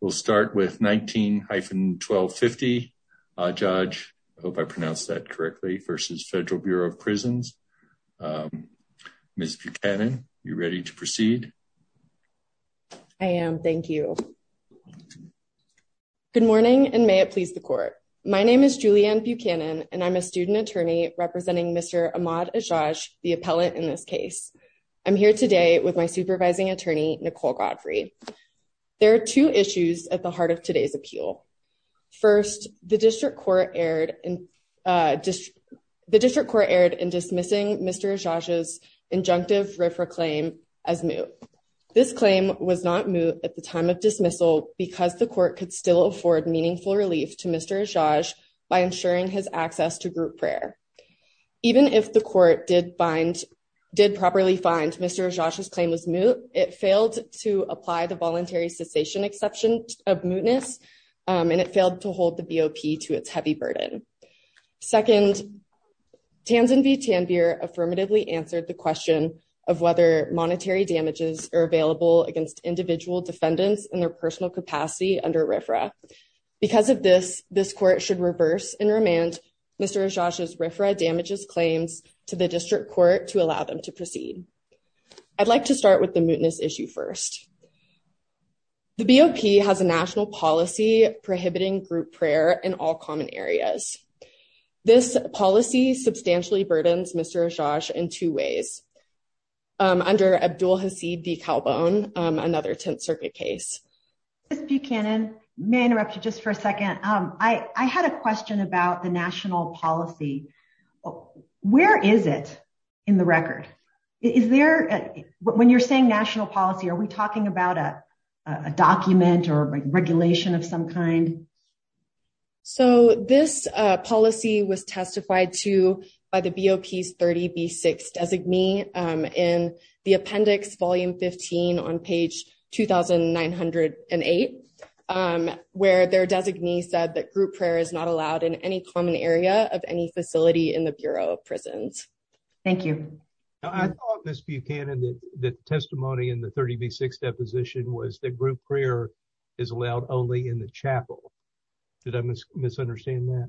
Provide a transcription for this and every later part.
We'll start with 19-1250. Uh, Ajaj, I hope I pronounced that correctly, versus Federal Bureau of Prisons. Um, Ms. Buchanan, you ready to proceed? I am. Thank you. Good morning and may it please the court. My name is Julianne Buchanan and I'm a student attorney representing Mr. Ahmad Ajaj, the appellant in this case. I'm here today with supervising attorney Nicole Godfrey. There are two issues at the heart of today's appeal. First, the district court erred in, uh, the district court erred in dismissing Mr. Ajaj's injunctive RFRA claim as moot. This claim was not moot at the time of dismissal because the court could still afford meaningful relief to Mr. Ajaj by ensuring his access to group prayer. Even if the court did properly find Mr. Ajaj's claim was moot, it failed to apply the voluntary cessation exception of mootness, um, and it failed to hold the BOP to its heavy burden. Second, Tanzan v. Tanvir affirmatively answered the question of whether monetary damages are available against individual defendants in their personal capacity under RFRA. Because of this, this court should reverse and remand Mr. Ajaj's RFRA damages claims to the district court to allow them to proceed. I'd like to start with the mootness issue first. The BOP has a national policy prohibiting group prayer in all common areas. This policy substantially burdens Mr. Ajaj in two ways, um, under Abdul Hasid v. Calbon, um, another circuit case. Ms. Buchanan, may I interrupt you just for a second? Um, I, I had a question about the national policy. Where is it in the record? Is there, when you're saying national policy, are we talking about a, a document or regulation of some kind? So, this, uh, policy was testified to by the BOP's 30B6 designee, um, in the appendix volume 15 on page 2908, um, where their designee said that group prayer is not allowed in any common area of any facility in the Bureau of Prisons. Thank you. I thought, Ms. Buchanan, that the testimony in the 30B6 deposition was that group prayer is allowed only in the chapel. Did I misunderstand that?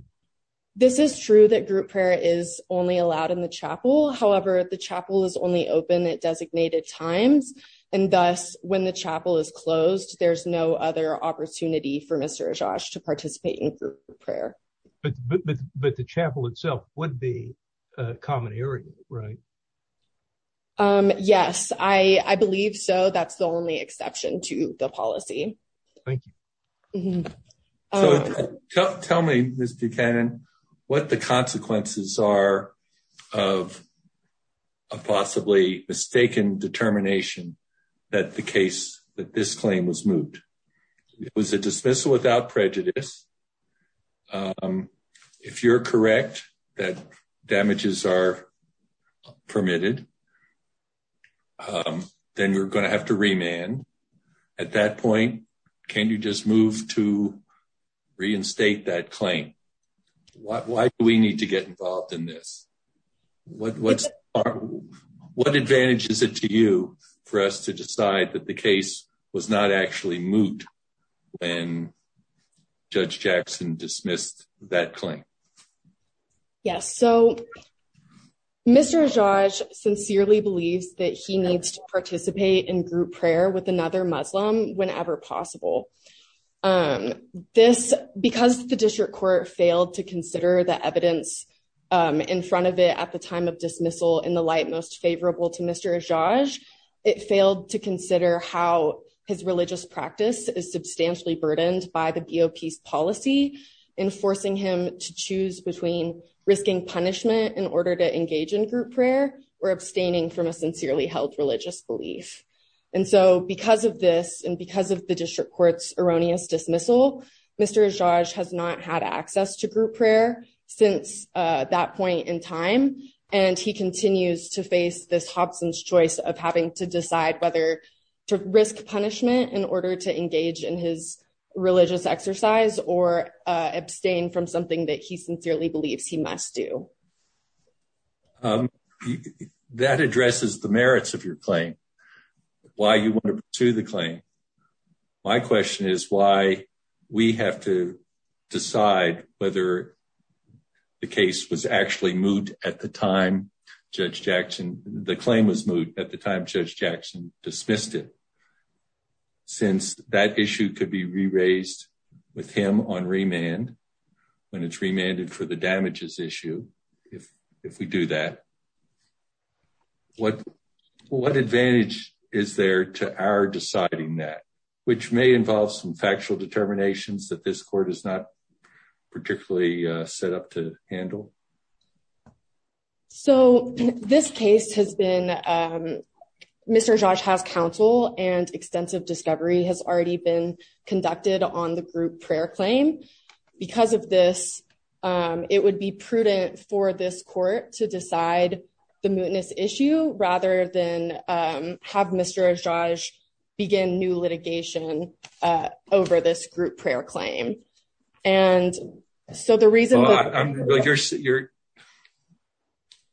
This is true that group prayer is only allowed in the chapel. However, the chapel is only open at designated times, and thus when the chapel is closed, there's no other opportunity for Mr. Ajaj to participate in group prayer. But, but, but the chapel itself would be a common area, right? Um, yes, I, I believe so. That's the only exception to the policy. Thank you. So, tell me, Ms. Buchanan, what the consequences are of a possibly mistaken determination that the case, that this claim was moved? It was a dismissal without prejudice. Um, if you're correct that damages are permitted, um, then you're going to have to remand. At that point, can you just move to reinstate that claim? Why do we need to get involved in this? What, what's, what advantage is it to you for us to decide that the case was not actually moot when Judge Jackson dismissed that claim? Yes. So, Mr. Ajaj sincerely believes that he needs to participate in group prayer with another Muslim whenever possible. Um, this, because the district court failed to consider the evidence, um, in front of it at the time of dismissal in the light most favorable to Mr. Ajaj, it failed to consider how his religious practice is substantially burdened by the GOP's policy in forcing him to choose between risking punishment in order to engage in group prayer or abstaining from a sincerely held religious belief. And so because of this and because of the district court's erroneous dismissal, Mr. Ajaj has not had access to group prayer since, uh, that point in time. And he continues to face this Hobson's choice of having to decide whether to risk punishment in order to engage in his religious exercise or, uh, abstain from something that he sincerely believes he must do. Um, that addresses the merits of your claim, why you want to pursue the claim. My question is why we have to decide whether the case was actually moot at the time, Judge Jackson, the claim was moot at the time Judge Jackson dismissed it since that issue could be re-raised with him on remand when it's remanded for the damages issue. If, if we do that, what, what advantage is there to our deciding that which may involve some factual determinations that this court is not particularly set up to handle. So this case has been, um, Mr. Ajaj has counsel and extensive discovery has already been conducted on the group prayer claim because of this, um, it would be prudent for this court to decide the mootness issue rather than, um, have Mr. Ajaj begin new litigation, uh, and so the reason...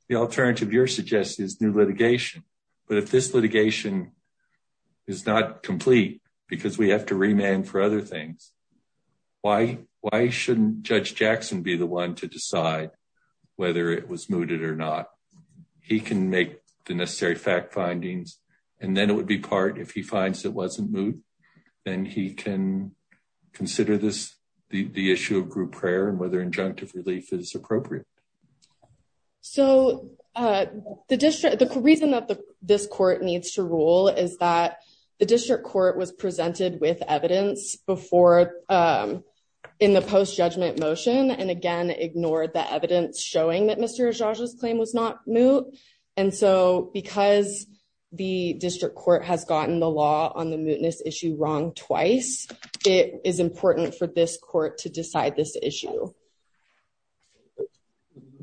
The alternative you're suggesting is new litigation, but if this litigation is not complete because we have to remand for other things, why, why shouldn't Judge Jackson be the one to decide whether it was mooted or not? He can make the necessary fact findings and then it would be part if he finds it wasn't moot, then he can consider this, the issue of group prayer and whether injunctive relief is appropriate. So, uh, the district, the reason that this court needs to rule is that the district court was presented with evidence before, um, in the post-judgment motion and again ignored the evidence showing that Mr. Ajaj's claim was not moot. And so because the district court has to decide this issue.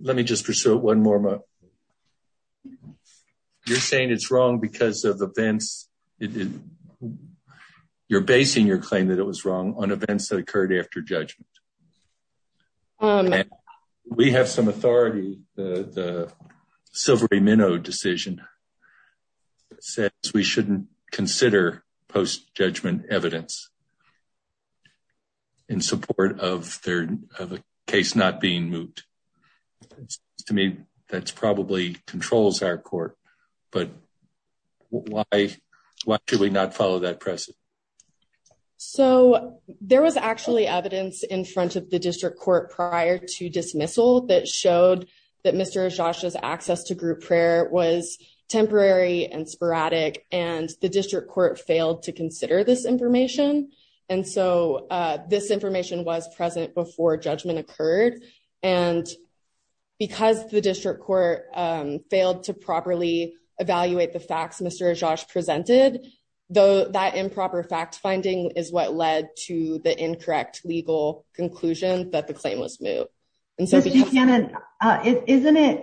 Let me just pursue it one more. You're saying it's wrong because of events. You're basing your claim that it was wrong on events that occurred after judgment. We have some authority, the Silvery Minow decision that says we shouldn't consider post-judgment evidence in support of their, of a case not being moot. To me, that's probably controls our court, but why, why should we not follow that precedent? So there was actually evidence in front of the district court prior to dismissal that showed that Mr. Ajaj's access to group prayer was temporary and sporadic and the district court failed to consider this information. And so, uh, this information was present before judgment occurred. And because the district court, um, failed to properly evaluate the facts, Mr. Ajaj presented though that improper fact finding is what led to the incorrect legal conclusion that the claim was moot. And so isn't it,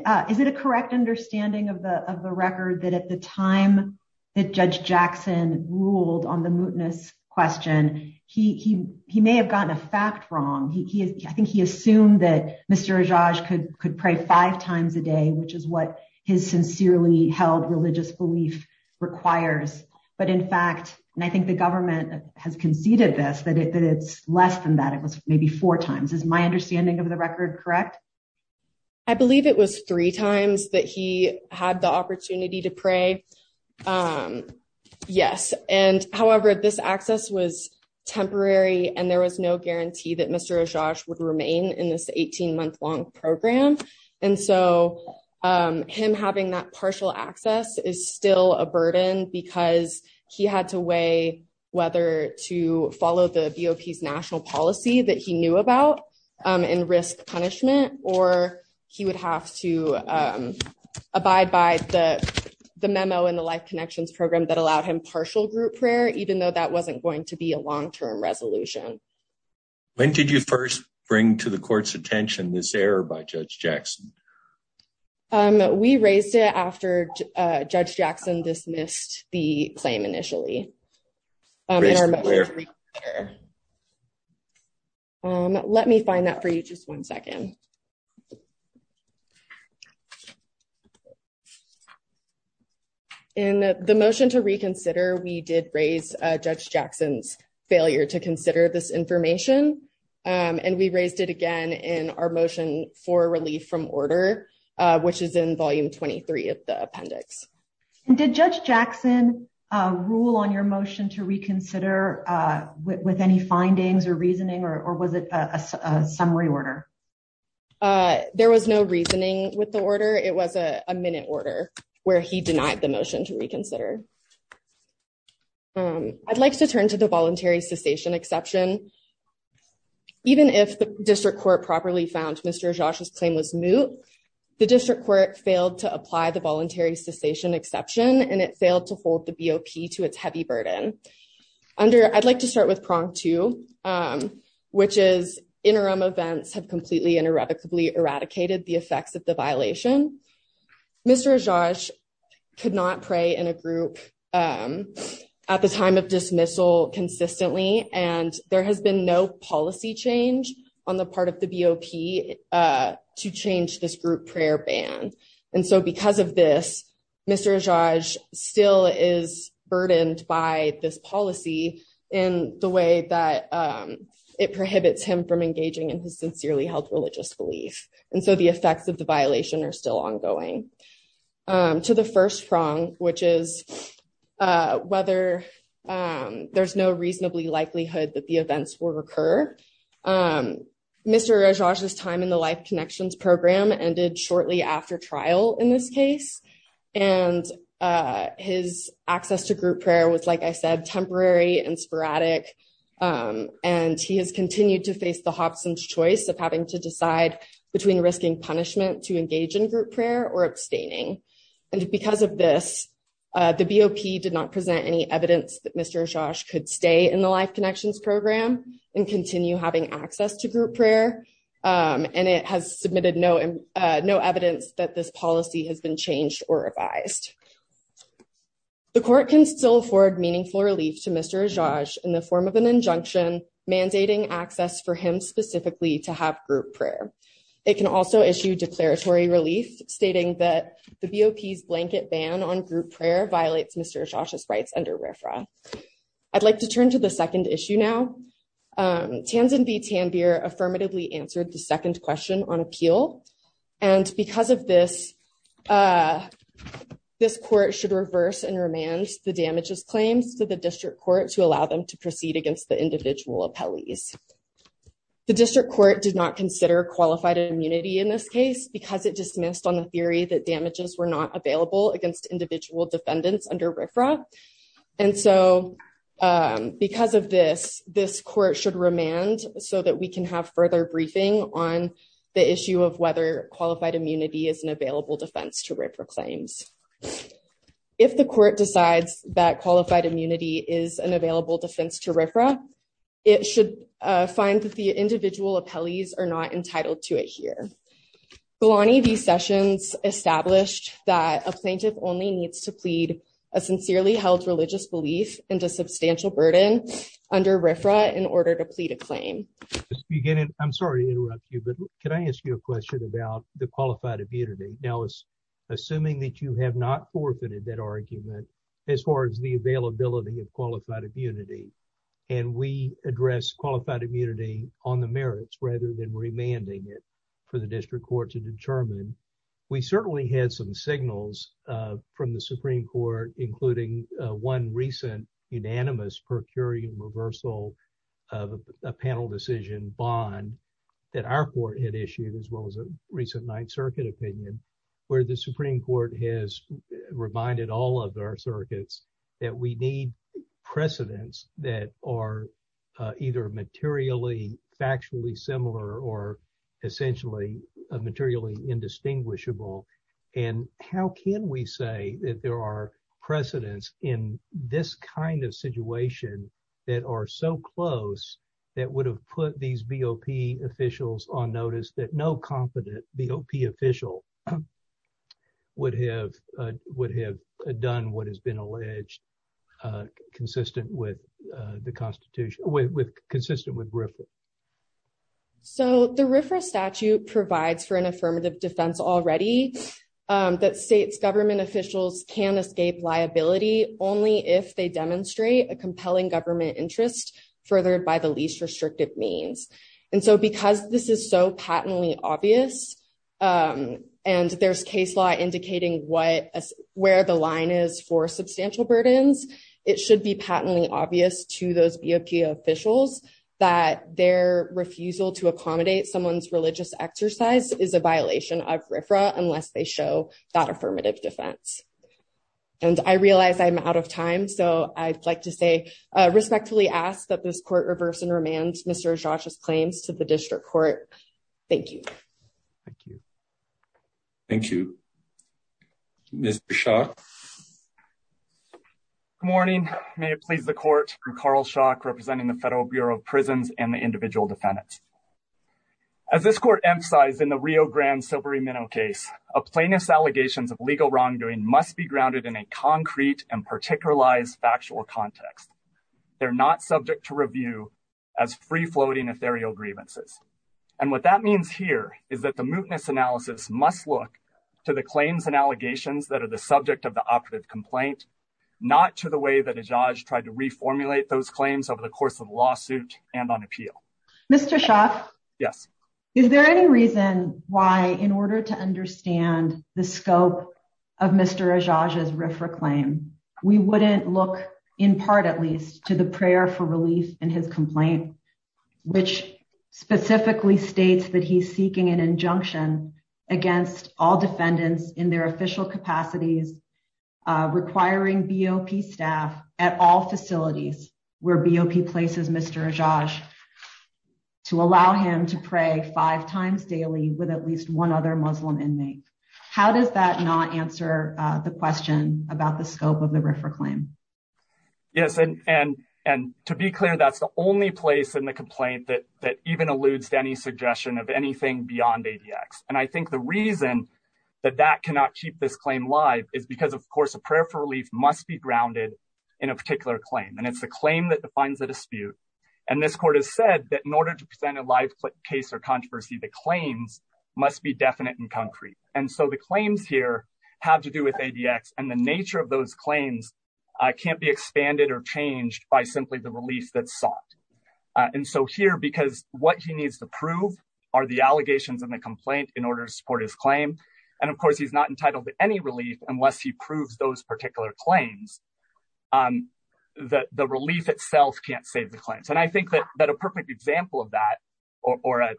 uh, is it a correct understanding of the, of the record that at the time that judge Jackson ruled on the mootness question, he, he, he may have gotten a fact wrong. He, he, I think he assumed that Mr. Ajaj could, could pray five times a day, which is what his sincerely held religious belief requires. But in fact, and I think the government has conceded this, that it's less than that. It that he had the opportunity to pray. Um, yes. And however, this access was temporary and there was no guarantee that Mr. Ajaj would remain in this 18 month long program. And so, um, him having that partial access is still a burden because he had to weigh whether to follow the BOPs national policy that he knew about, um, and risk punishment, or he would have to, um, abide by the, the memo in the life connections program that allowed him partial group prayer, even though that wasn't going to be a long-term resolution. When did you first bring to the court's attention this error by judge Jackson? Um, we raised it after, uh, judge Jackson dismissed the claim initially. Um, let me find that for you. Just one second. In the motion to reconsider, we did raise, uh, judge Jackson's failure to consider this information. Um, and we raised it again in our motion for relief from order, uh, which is in volume 23 of the appendix. Did judge Jackson, uh, rule on your motion to reconsider, uh, with any findings or reasoning, or was it a summary order? Uh, there was no reasoning with the order. It was a minute order where he denied the motion to reconsider. Um, I'd like to turn to the voluntary cessation exception. Even if the district court properly found Mr. Ajaj's claim was moot, the district court failed to apply the voluntary cessation exception, and it failed to hold the BOP to its heavy burden. Under, I'd like to start with prong two, um, which is interim events have completely and irrevocably eradicated the effects of the violation. Mr. Ajaj could not pray in a group, um, at the time of dismissal consistently, and there has been no policy change on the part of the BOP, uh, to change this group prayer ban. And so because of this, Mr. Ajaj still is burdened by this policy in the way that, um, it prohibits him from engaging in his sincerely held religious belief. And so the effects of the violation are still ongoing. Um, to the first prong, which is, uh, whether, um, there's no reasonably likelihood that the events will occur. Um, Mr. Ajaj's time in the Life Connections program ended shortly after trial in this case, and, uh, his access to group prayer was, like I said, temporary and sporadic. Um, and he has continued to face the Hobson's choice of having to decide between risking punishment to engage in group prayer or abstaining. And because of this, uh, the BOP did not present any evidence that Mr. Ajaj could stay in the Life Connections program and continue having access to group prayer. Um, and it has afforded meaningful relief to Mr. Ajaj in the form of an injunction mandating access for him specifically to have group prayer. It can also issue declaratory relief stating that the BOP's blanket ban on group prayer violates Mr. Ajaj's rights under RFRA. I'd like to turn to the second issue now. Um, Tanzanby Tanbir affirmatively answered the second question on appeal. And this court should reverse and remand the damages claims to the district court to allow them to proceed against the individual appellees. The district court did not consider qualified immunity in this case because it dismissed on the theory that damages were not available against individual defendants under RFRA. And so, um, because of this, this court should remand so that we can have further briefing on the issue of whether qualified immunity is an available defense to RFRA claims. If the court decides that qualified immunity is an available defense to RFRA, it should, uh, find that the individual appellees are not entitled to it here. Kalani V. Sessions established that a plaintiff only needs to plead a sincerely held religious belief and a substantial burden under RFRA in order to plead a claim. I'm sorry to interrupt you, but can I ask you a question about the qualified immunity? Now, assuming that you have not forfeited that argument as far as the availability of qualified immunity, and we address qualified immunity on the merits rather than remanding it for the district court to determine, we certainly had some signals, uh, from the Supreme Court, including, uh, one recent unanimous per curiam reversal of a panel decision bond that our court had issued, as well as a recent Ninth Circuit opinion, where the Supreme Court has reminded all of our circuits that we need precedents that are, uh, either materially factually similar or essentially, uh, materially indistinguishable, and how can we say that there are precedents in this kind of situation that are so close that would have put these BOP officials on notice that no confident BOP official would have, uh, would have done what has been alleged, uh, consistent with, uh, the Constitution, consistent with RFRA? So the RFRA statute provides for an affirmative defense already that states government officials can escape liability only if they demonstrate a compelling government interest furthered by the least restrictive means, and so because this is so patently obvious, um, and there's case law indicating what, where the line is for substantial burdens, it should be patently obvious to those BOP officials that their refusal to accommodate someone's religious exercise is a violation of RFRA unless they show that affirmative defense. And I realize I'm out of time, so I'd like to say, uh, respectfully ask that this court reverse and remand Mr. Ajax's claims to the district court. Thank you. Thank you. Thank you. Mr. Shah. Good morning. May it please the court, I'm Carl Shah, representing the Federal Bureau of Prisons and the individual defendants. As this court emphasized in the Rio Grande Silbury Minow case, a plaintiff's allegations of legal wrongdoing must be grounded in a concrete and particularized factual context. They're not subject to review as free-floating ethereal grievances, and what that means here is that the mootness analysis must look to the claims and allegations that are the subject of the operative complaint, not to the way that Ajax tried to reformulate those claims over the course of the lawsuit and on appeal. Mr. Shah. Yes. Is there any reason why in order to understand the scope of Mr. Ajax's RFRA claim, we wouldn't look in part, at least, to the prayer for relief in his complaint, which specifically states that he's seeking an injunction against all defendants in their official capacities requiring BOP staff at all facilities where BOP places Mr. Ajax to allow him to pray five times daily with at least one other Muslim inmate? How does that not answer the question about the scope of the RFRA claim? Yes, and to be clear, that's the only place in the complaint that even alludes to any thing beyond ADX, and I think the reason that that cannot keep this claim live is because, of course, a prayer for relief must be grounded in a particular claim, and it's the claim that defines the dispute, and this court has said that in order to present a live case or controversy, the claims must be definite and concrete, and so the claims here have to do with ADX, and the nature of those claims can't be expanded or changed by simply the relief that's sought, and so here, because what he needs to prove are the allegations in the complaint in order to support his claim, and of course, he's not entitled to any relief unless he proves those particular claims, that the relief itself can't save the claims, and I think that a perfect example of that or an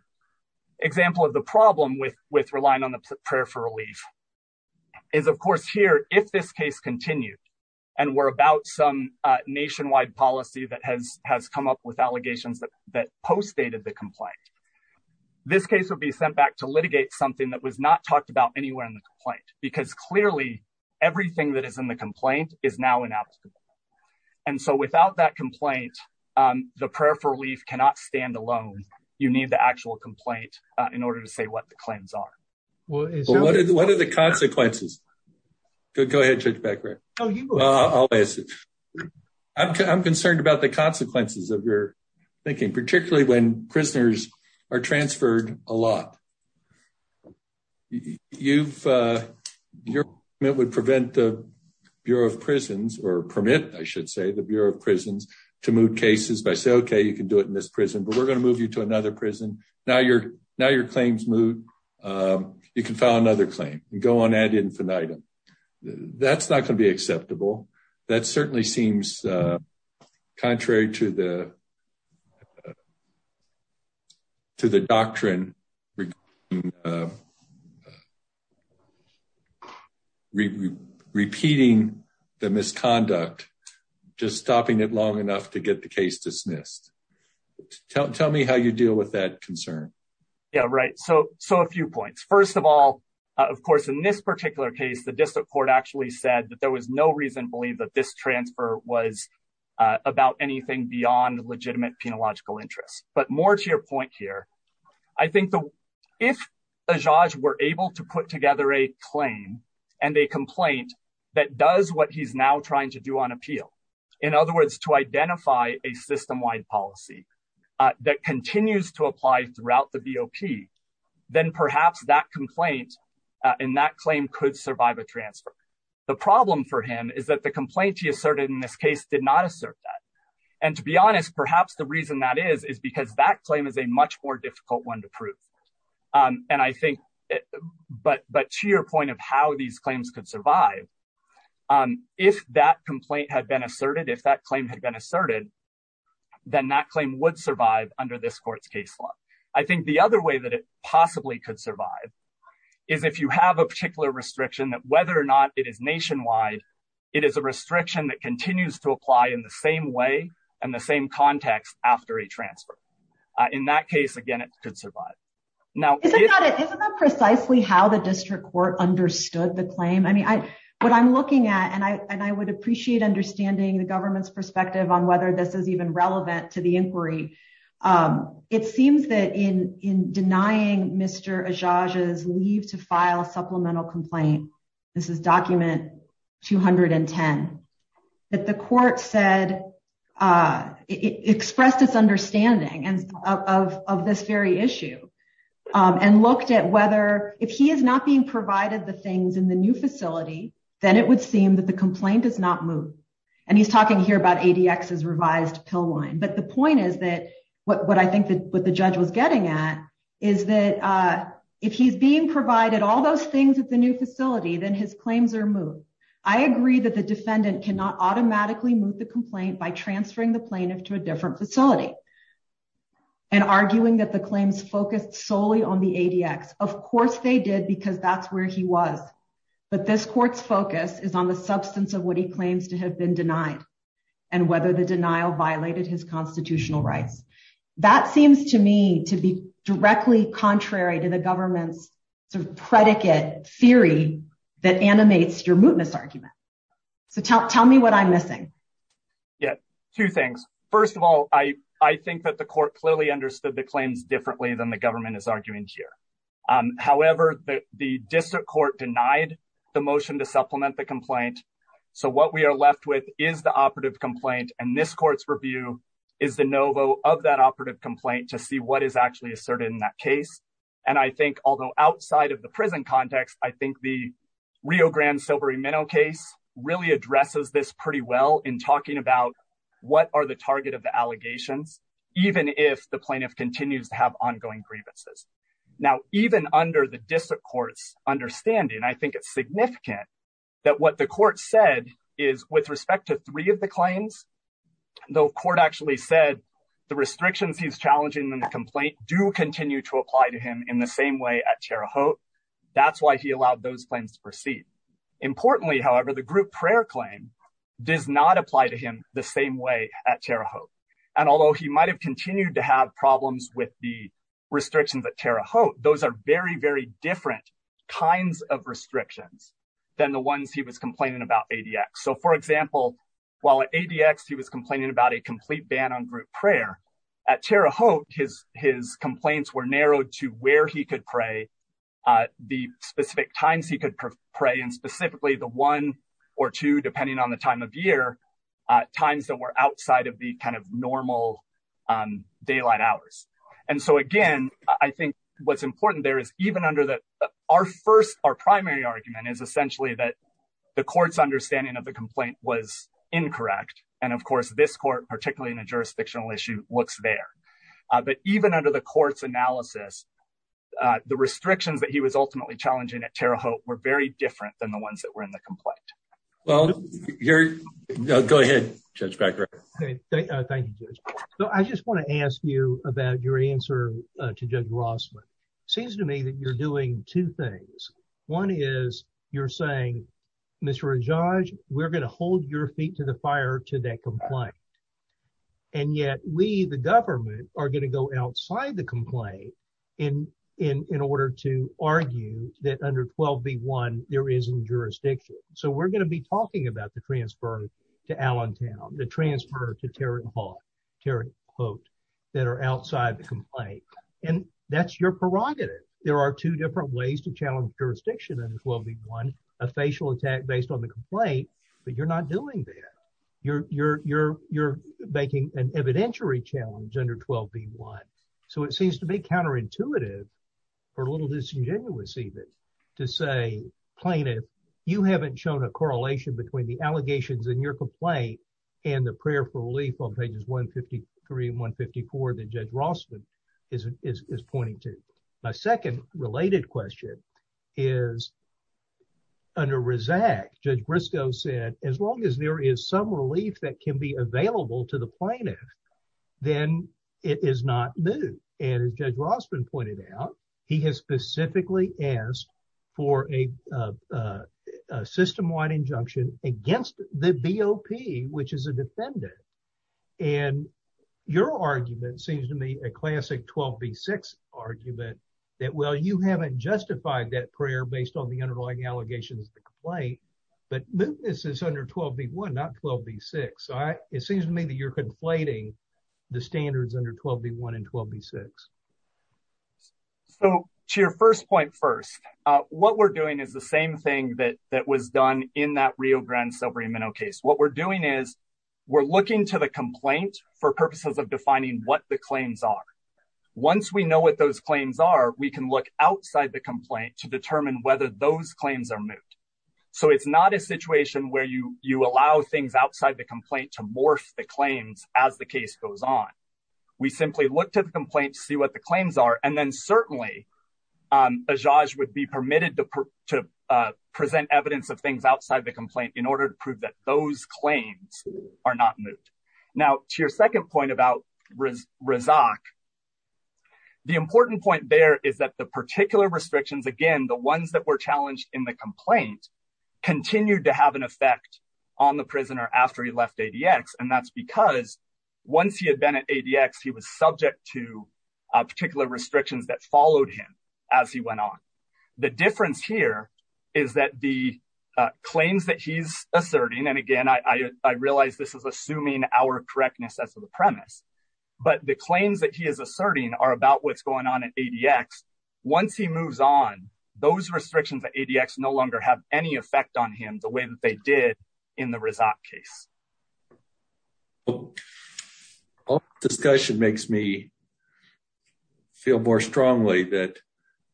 example of the problem with relying on the prayer for relief is, of course, here, if this case continued and were about some nationwide policy that has come up with allegations that postdated the complaint, this case would be sent back to litigate something that was not talked about anywhere in the complaint, because clearly, everything that is in the complaint is now inapplicable, and so without that complaint, the prayer for relief cannot stand alone. You need the actual complaint in order to say what the claims are. Well, what are the consequences? Go ahead, Judge Becker. I'll answer. I'm concerned about the consequences of your thinking, particularly when prisoners are transferred a lot. Your amendment would prevent the Bureau of Prisons, or permit, I should say, the Bureau of Prisons to move cases by saying, okay, you can do it in this prison, but we're going to move you to you can file another claim and go on ad infinitum. That's not going to be acceptable. That certainly seems contrary to the doctrine repeating the misconduct, just stopping it long enough to get the case dismissed. Tell me how you deal with that concern. Yeah, right. So, a few points. First of all, of course, in this particular case, the district court actually said that there was no reason to believe that this transfer was about anything beyond legitimate penological interests, but more to your point here, I think if Ajaj were able to put together a claim and a complaint that does what he's now trying to do on appeal, in other words, to identify a system-wide policy that continues to apply throughout the BOP, then perhaps that complaint and that claim could survive a transfer. The problem for him is that the complaint he asserted in this case did not assert that. And to be honest, perhaps the reason that is, is because that claim is a much more If that complaint had been asserted, if that claim had been asserted, then that claim would survive under this court's case law. I think the other way that it possibly could survive is if you have a particular restriction that whether or not it is nationwide, it is a restriction that continues to apply in the same way and the same context after a transfer. In that case, again, it could survive. Now, isn't that precisely how the district court understood the claim? I mean, what I'm looking at, and I would appreciate understanding the government's perspective on whether this is even relevant to the inquiry. It seems that in denying Mr. Ajaj's leave to file a supplemental complaint, this is document 210, that the court said, expressed its understanding of this very issue and looked at whether if he is not being provided the things in the new facility, then it would seem that the complaint does not move. And he's talking here about ADX's revised pill line. But the point is that what I think that what the judge was getting at is that if he's being provided all those things at the new facility, then his claims are moved. I agree that the defendant cannot automatically move the complaint by transferring the plaintiff to a different facility and arguing that the claims focused solely on the ADX. Of that's where he was. But this court's focus is on the substance of what he claims to have been denied and whether the denial violated his constitutional rights. That seems to me to be directly contrary to the government's predicate theory that animates your mootness argument. So tell me what I'm missing. Yeah, two things. First of all, I think that the court clearly the claims differently than the government is arguing here. However, the district court denied the motion to supplement the complaint. So what we are left with is the operative complaint. And this court's review is the novo of that operative complaint to see what is actually asserted in that case. And I think although outside of the prison context, I think the Rio Grande silvery minnow case really addresses this pretty well in talking about what are the target of the plaintiff continues to have ongoing grievances. Now, even under the district court's understanding, I think it's significant that what the court said is with respect to three of the claims, the court actually said, the restrictions he's challenging the complaint do continue to apply to him in the same way at Terra Haute. That's why he allowed those plans to proceed. Importantly, however, the group prayer claim does not apply to him the same way at Terra Haute. And although he might have continued to have problems with the restrictions at Terra Haute, those are very, very different kinds of restrictions than the ones he was complaining about ADX. So for example, while at ADX he was complaining about a complete ban on group prayer at Terra Haute, his complaints were narrowed to where he could pray, the specific times he could pray, and specifically the one or two, depending on the time of year, times that were outside of the kind of normal daylight hours. And so again, I think what's important there is even under that, our first, our primary argument is essentially that the court's understanding of the complaint was incorrect. And of course, this court, particularly in a jurisdictional issue, looks there. But even under the court's analysis, the restrictions that he was ultimately challenging at Terra Haute were very different than the ones that were in the complaint. Well, go ahead, Judge Becker. Thank you, Judge. So I just want to ask you about your answer to Judge Rossman. It seems to me that you're doing two things. One is you're saying, Mr. Rajaj, we're going to hold your feet to the fire to that complaint. And yet we, the government, are going to go outside the complaint in order to talk about the transfer to Allentown, the transfer to Terra Haute that are outside the complaint. And that's your prerogative. There are two different ways to challenge jurisdiction under 12b1, a facial attack based on the complaint, but you're not doing that. You're making an evidentiary challenge under 12b1. So it seems to be counterintuitive, or a little disingenuous even, to say, Plaintiff, you haven't shown a correlation between the allegations in your complaint and the prayer for relief on pages 153 and 154 that Judge Rossman is pointing to. My second related question is under RISAC, Judge Briscoe said, as long as there is some relief that can be available to the plaintiff, then it is not new. And as Judge Rossman pointed out, he has specifically asked for a system-wide injunction against the BOP, which is a defendant. And your argument seems to me a classic 12b6 argument that, well, you haven't justified that prayer based on the underlying allegations of the complaint, but this is under 12b1, not 12b6. It seems to me that you're conflating the standards under 12b1 and 12b6. So to your first point first, what we're doing is the same thing that was done in that Rio Grande Silvery Minnow case. What we're doing is we're looking to the complaint for purposes of defining what the claims are. Once we know what those claims are, we can look outside the complaint to determine whether those claims are moot. So it's not a situation where you allow things outside the complaint to morph the claims as the case goes on. We simply look to the complaint to the claims are, and then certainly, a judge would be permitted to present evidence of things outside the complaint in order to prove that those claims are not moot. Now, to your second point about Razak, the important point there is that the particular restrictions, again, the ones that were challenged in the complaint, continued to have an effect on the prisoner after he left ADX. And that's because once he had been at ADX, he was subject to particular restrictions that followed him as he went on. The difference here is that the claims that he's asserting, and again, I realize this is assuming our correctness as to the premise, but the claims that he is asserting are about what's going on at ADX. Once he moves on, those restrictions at ADX no longer have any effect on what they did in the Razak case. Our discussion makes me feel more strongly that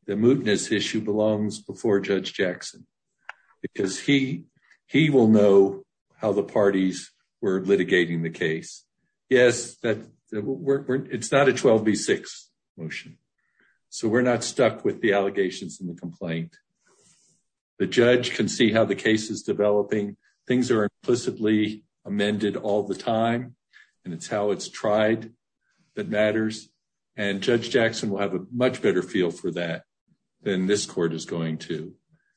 the mootness issue belongs before Judge Jackson, because he will know how the parties were litigating the case. Yes, it's not a 12 v 6 motion, so we're not stuck with the allegations in the complaint. The judge can see how the case is developing. Things are implicitly amended all the time, and it's how it's tried that matters. And Judge Jackson will have a much better feel for that than this court is going to.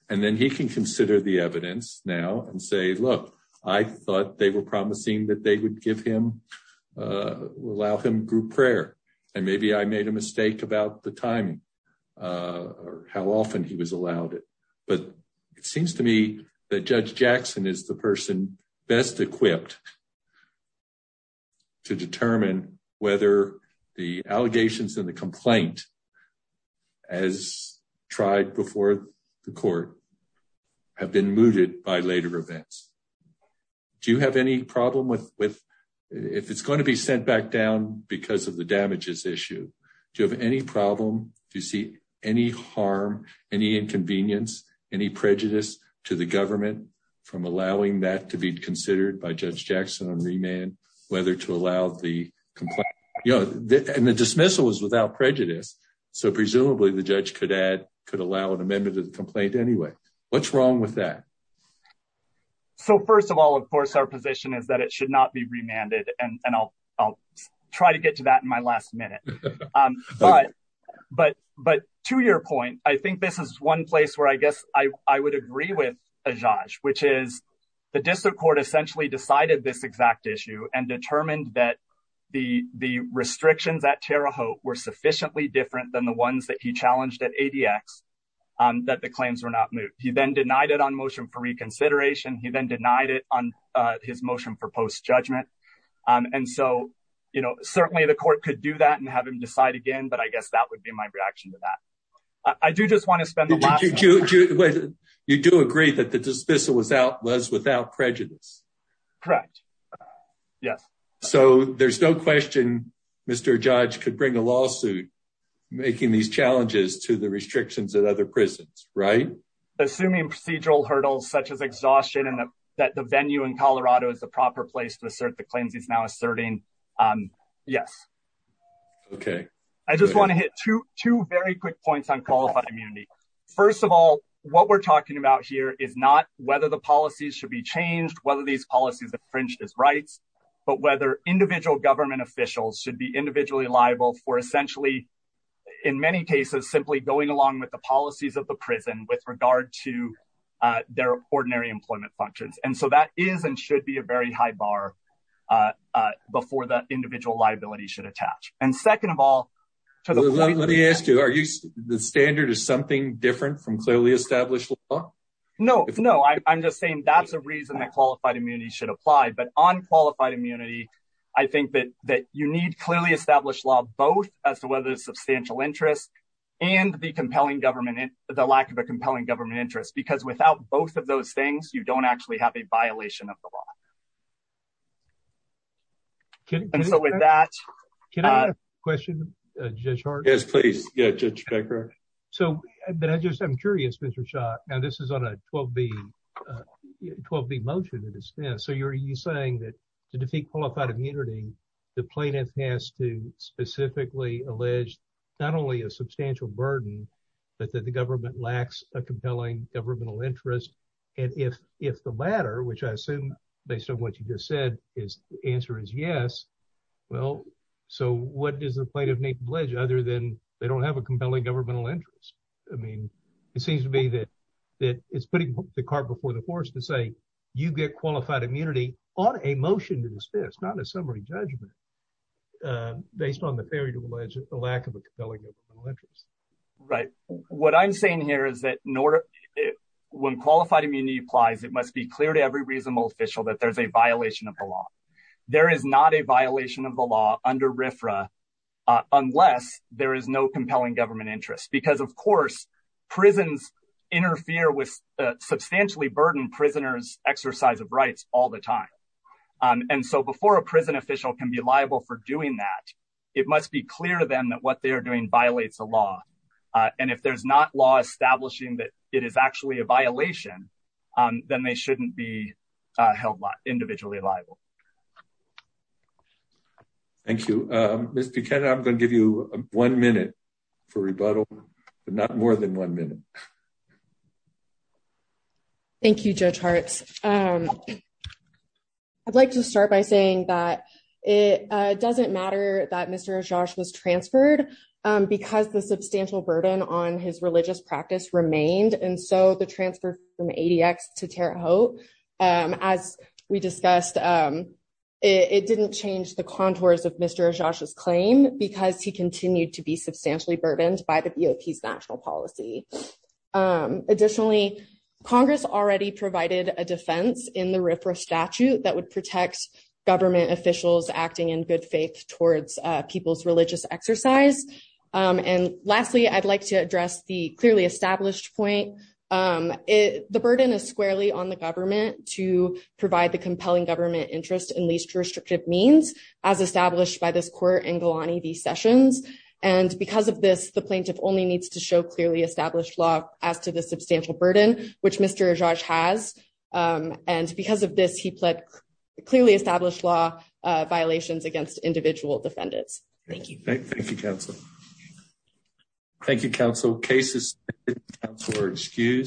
And then he can consider the evidence now and say, look, I thought they were promising that they would allow him group prayer, and maybe I made a mistake about the timing or how often he was allowed it. But it seems to me that Judge Jackson is the person best equipped to determine whether the allegations in the complaint, as tried before the court, have been mooted by later events. Do you have any problem with if it's going to be sent back down because of the damages issue? Do you have any problem, do you see any harm, any inconvenience, any prejudice to the government from allowing that to be considered by Judge Jackson on remand, whether to allow the complaint? And the dismissal was without prejudice, so presumably the judge could add, could allow an amendment to the complaint anyway. What's wrong with that? So first of all, of course, our position is that it should not be remanded, and I'll try to get to that in my last minute. But to your point, I think this is one place where I guess I would agree with Ajaj, which is the district court essentially decided this exact issue and determined that the restrictions at Terre Haute were sufficiently different than the ones that he challenged at ADX that the claims were not moved. He then denied it on motion for and so, you know, certainly the court could do that and have him decide again, but I guess that would be my reaction to that. I do just want to spend the last minute. You do agree that the dismissal was without prejudice? Correct, yes. So there's no question Mr. Judge could bring a lawsuit making these challenges to the restrictions at other prisons, right? Assuming procedural hurdles such as exhaustion and that the venue in Colorado is the proper place to assert the um, yes. Okay. I just want to hit two very quick points on qualified immunity. First of all, what we're talking about here is not whether the policies should be changed, whether these policies infringed his rights, but whether individual government officials should be individually liable for essentially, in many cases, simply going along with the policies of the prison with regard to their ordinary employment functions. And so that is and should be a very high bar before the individual liability should attach. And second of all, let me ask you, are you, the standard is something different from clearly established law? No, no. I'm just saying that's a reason that qualified immunity should apply. But on qualified immunity, I think that you need clearly established law, both as to whether it's substantial interest and the compelling government, the lack of a compelling government interest, because without both of those things, you don't actually have a violation of the law. And so with that, can I have a question, Judge Hart? Yes, please. Yeah, Judge Becker. So, but I just, I'm curious, Mr. Shaw, and this is on a 12-B, 12-B motion that is, so you're saying that to defeat qualified immunity, the plaintiff has to specifically allege not only a substantial burden, but that the government lacks a compelling governmental interest. And if the latter, which I assume, based on what you just said, the answer is yes, well, so what does the plaintiff need to allege other than they don't have a compelling governmental interest? I mean, it seems to me that it's putting the cart before the horse to say, you get qualified immunity on a motion to dismiss, not a summary judgment, based on the failure to allege the lack of a compelling interest. Right. What I'm saying here is that when qualified immunity applies, it must be clear to every reasonable official that there's a violation of the law. There is not a violation of the law under RFRA unless there is no compelling government interest, because of course, prisons interfere with substantially burdened prisoners' exercise of rights all the time. And so before a prison official can be liable for doing that, it must be clear to them that what they're doing violates the law. And if there's not law establishing that it is actually a violation, then they shouldn't be held individually liable. Thank you. Ms. Buchanan, I'm going to give you one minute for rebuttal, but not more than one minute. Thank you, Judge Hart. First, I'd like to start by saying that it doesn't matter that Mr. Ajax was transferred because the substantial burden on his religious practice remained. And so the transfer from ADX to Terre Haute, as we discussed, it didn't change the contours of Mr. Ajax's claim because he continued to be substantially burdened by the BOP's national policy. Additionally, Congress already provided a defense in the RFRA statute that would protect government officials acting in good faith towards people's religious exercise. And lastly, I'd like to address the clearly established point. The burden is squarely on the government to provide the compelling government interest in least restrictive means, as established by this court in Galani v. Sessions. And because of this, the plaintiff only needs to show clearly established law as to the substantial burden, which Mr. Ajax has. And because of this, he pled clearly established law violations against individual defendants. Thank you. Thank you, counsel. Thank you, counsel. Cases were excused.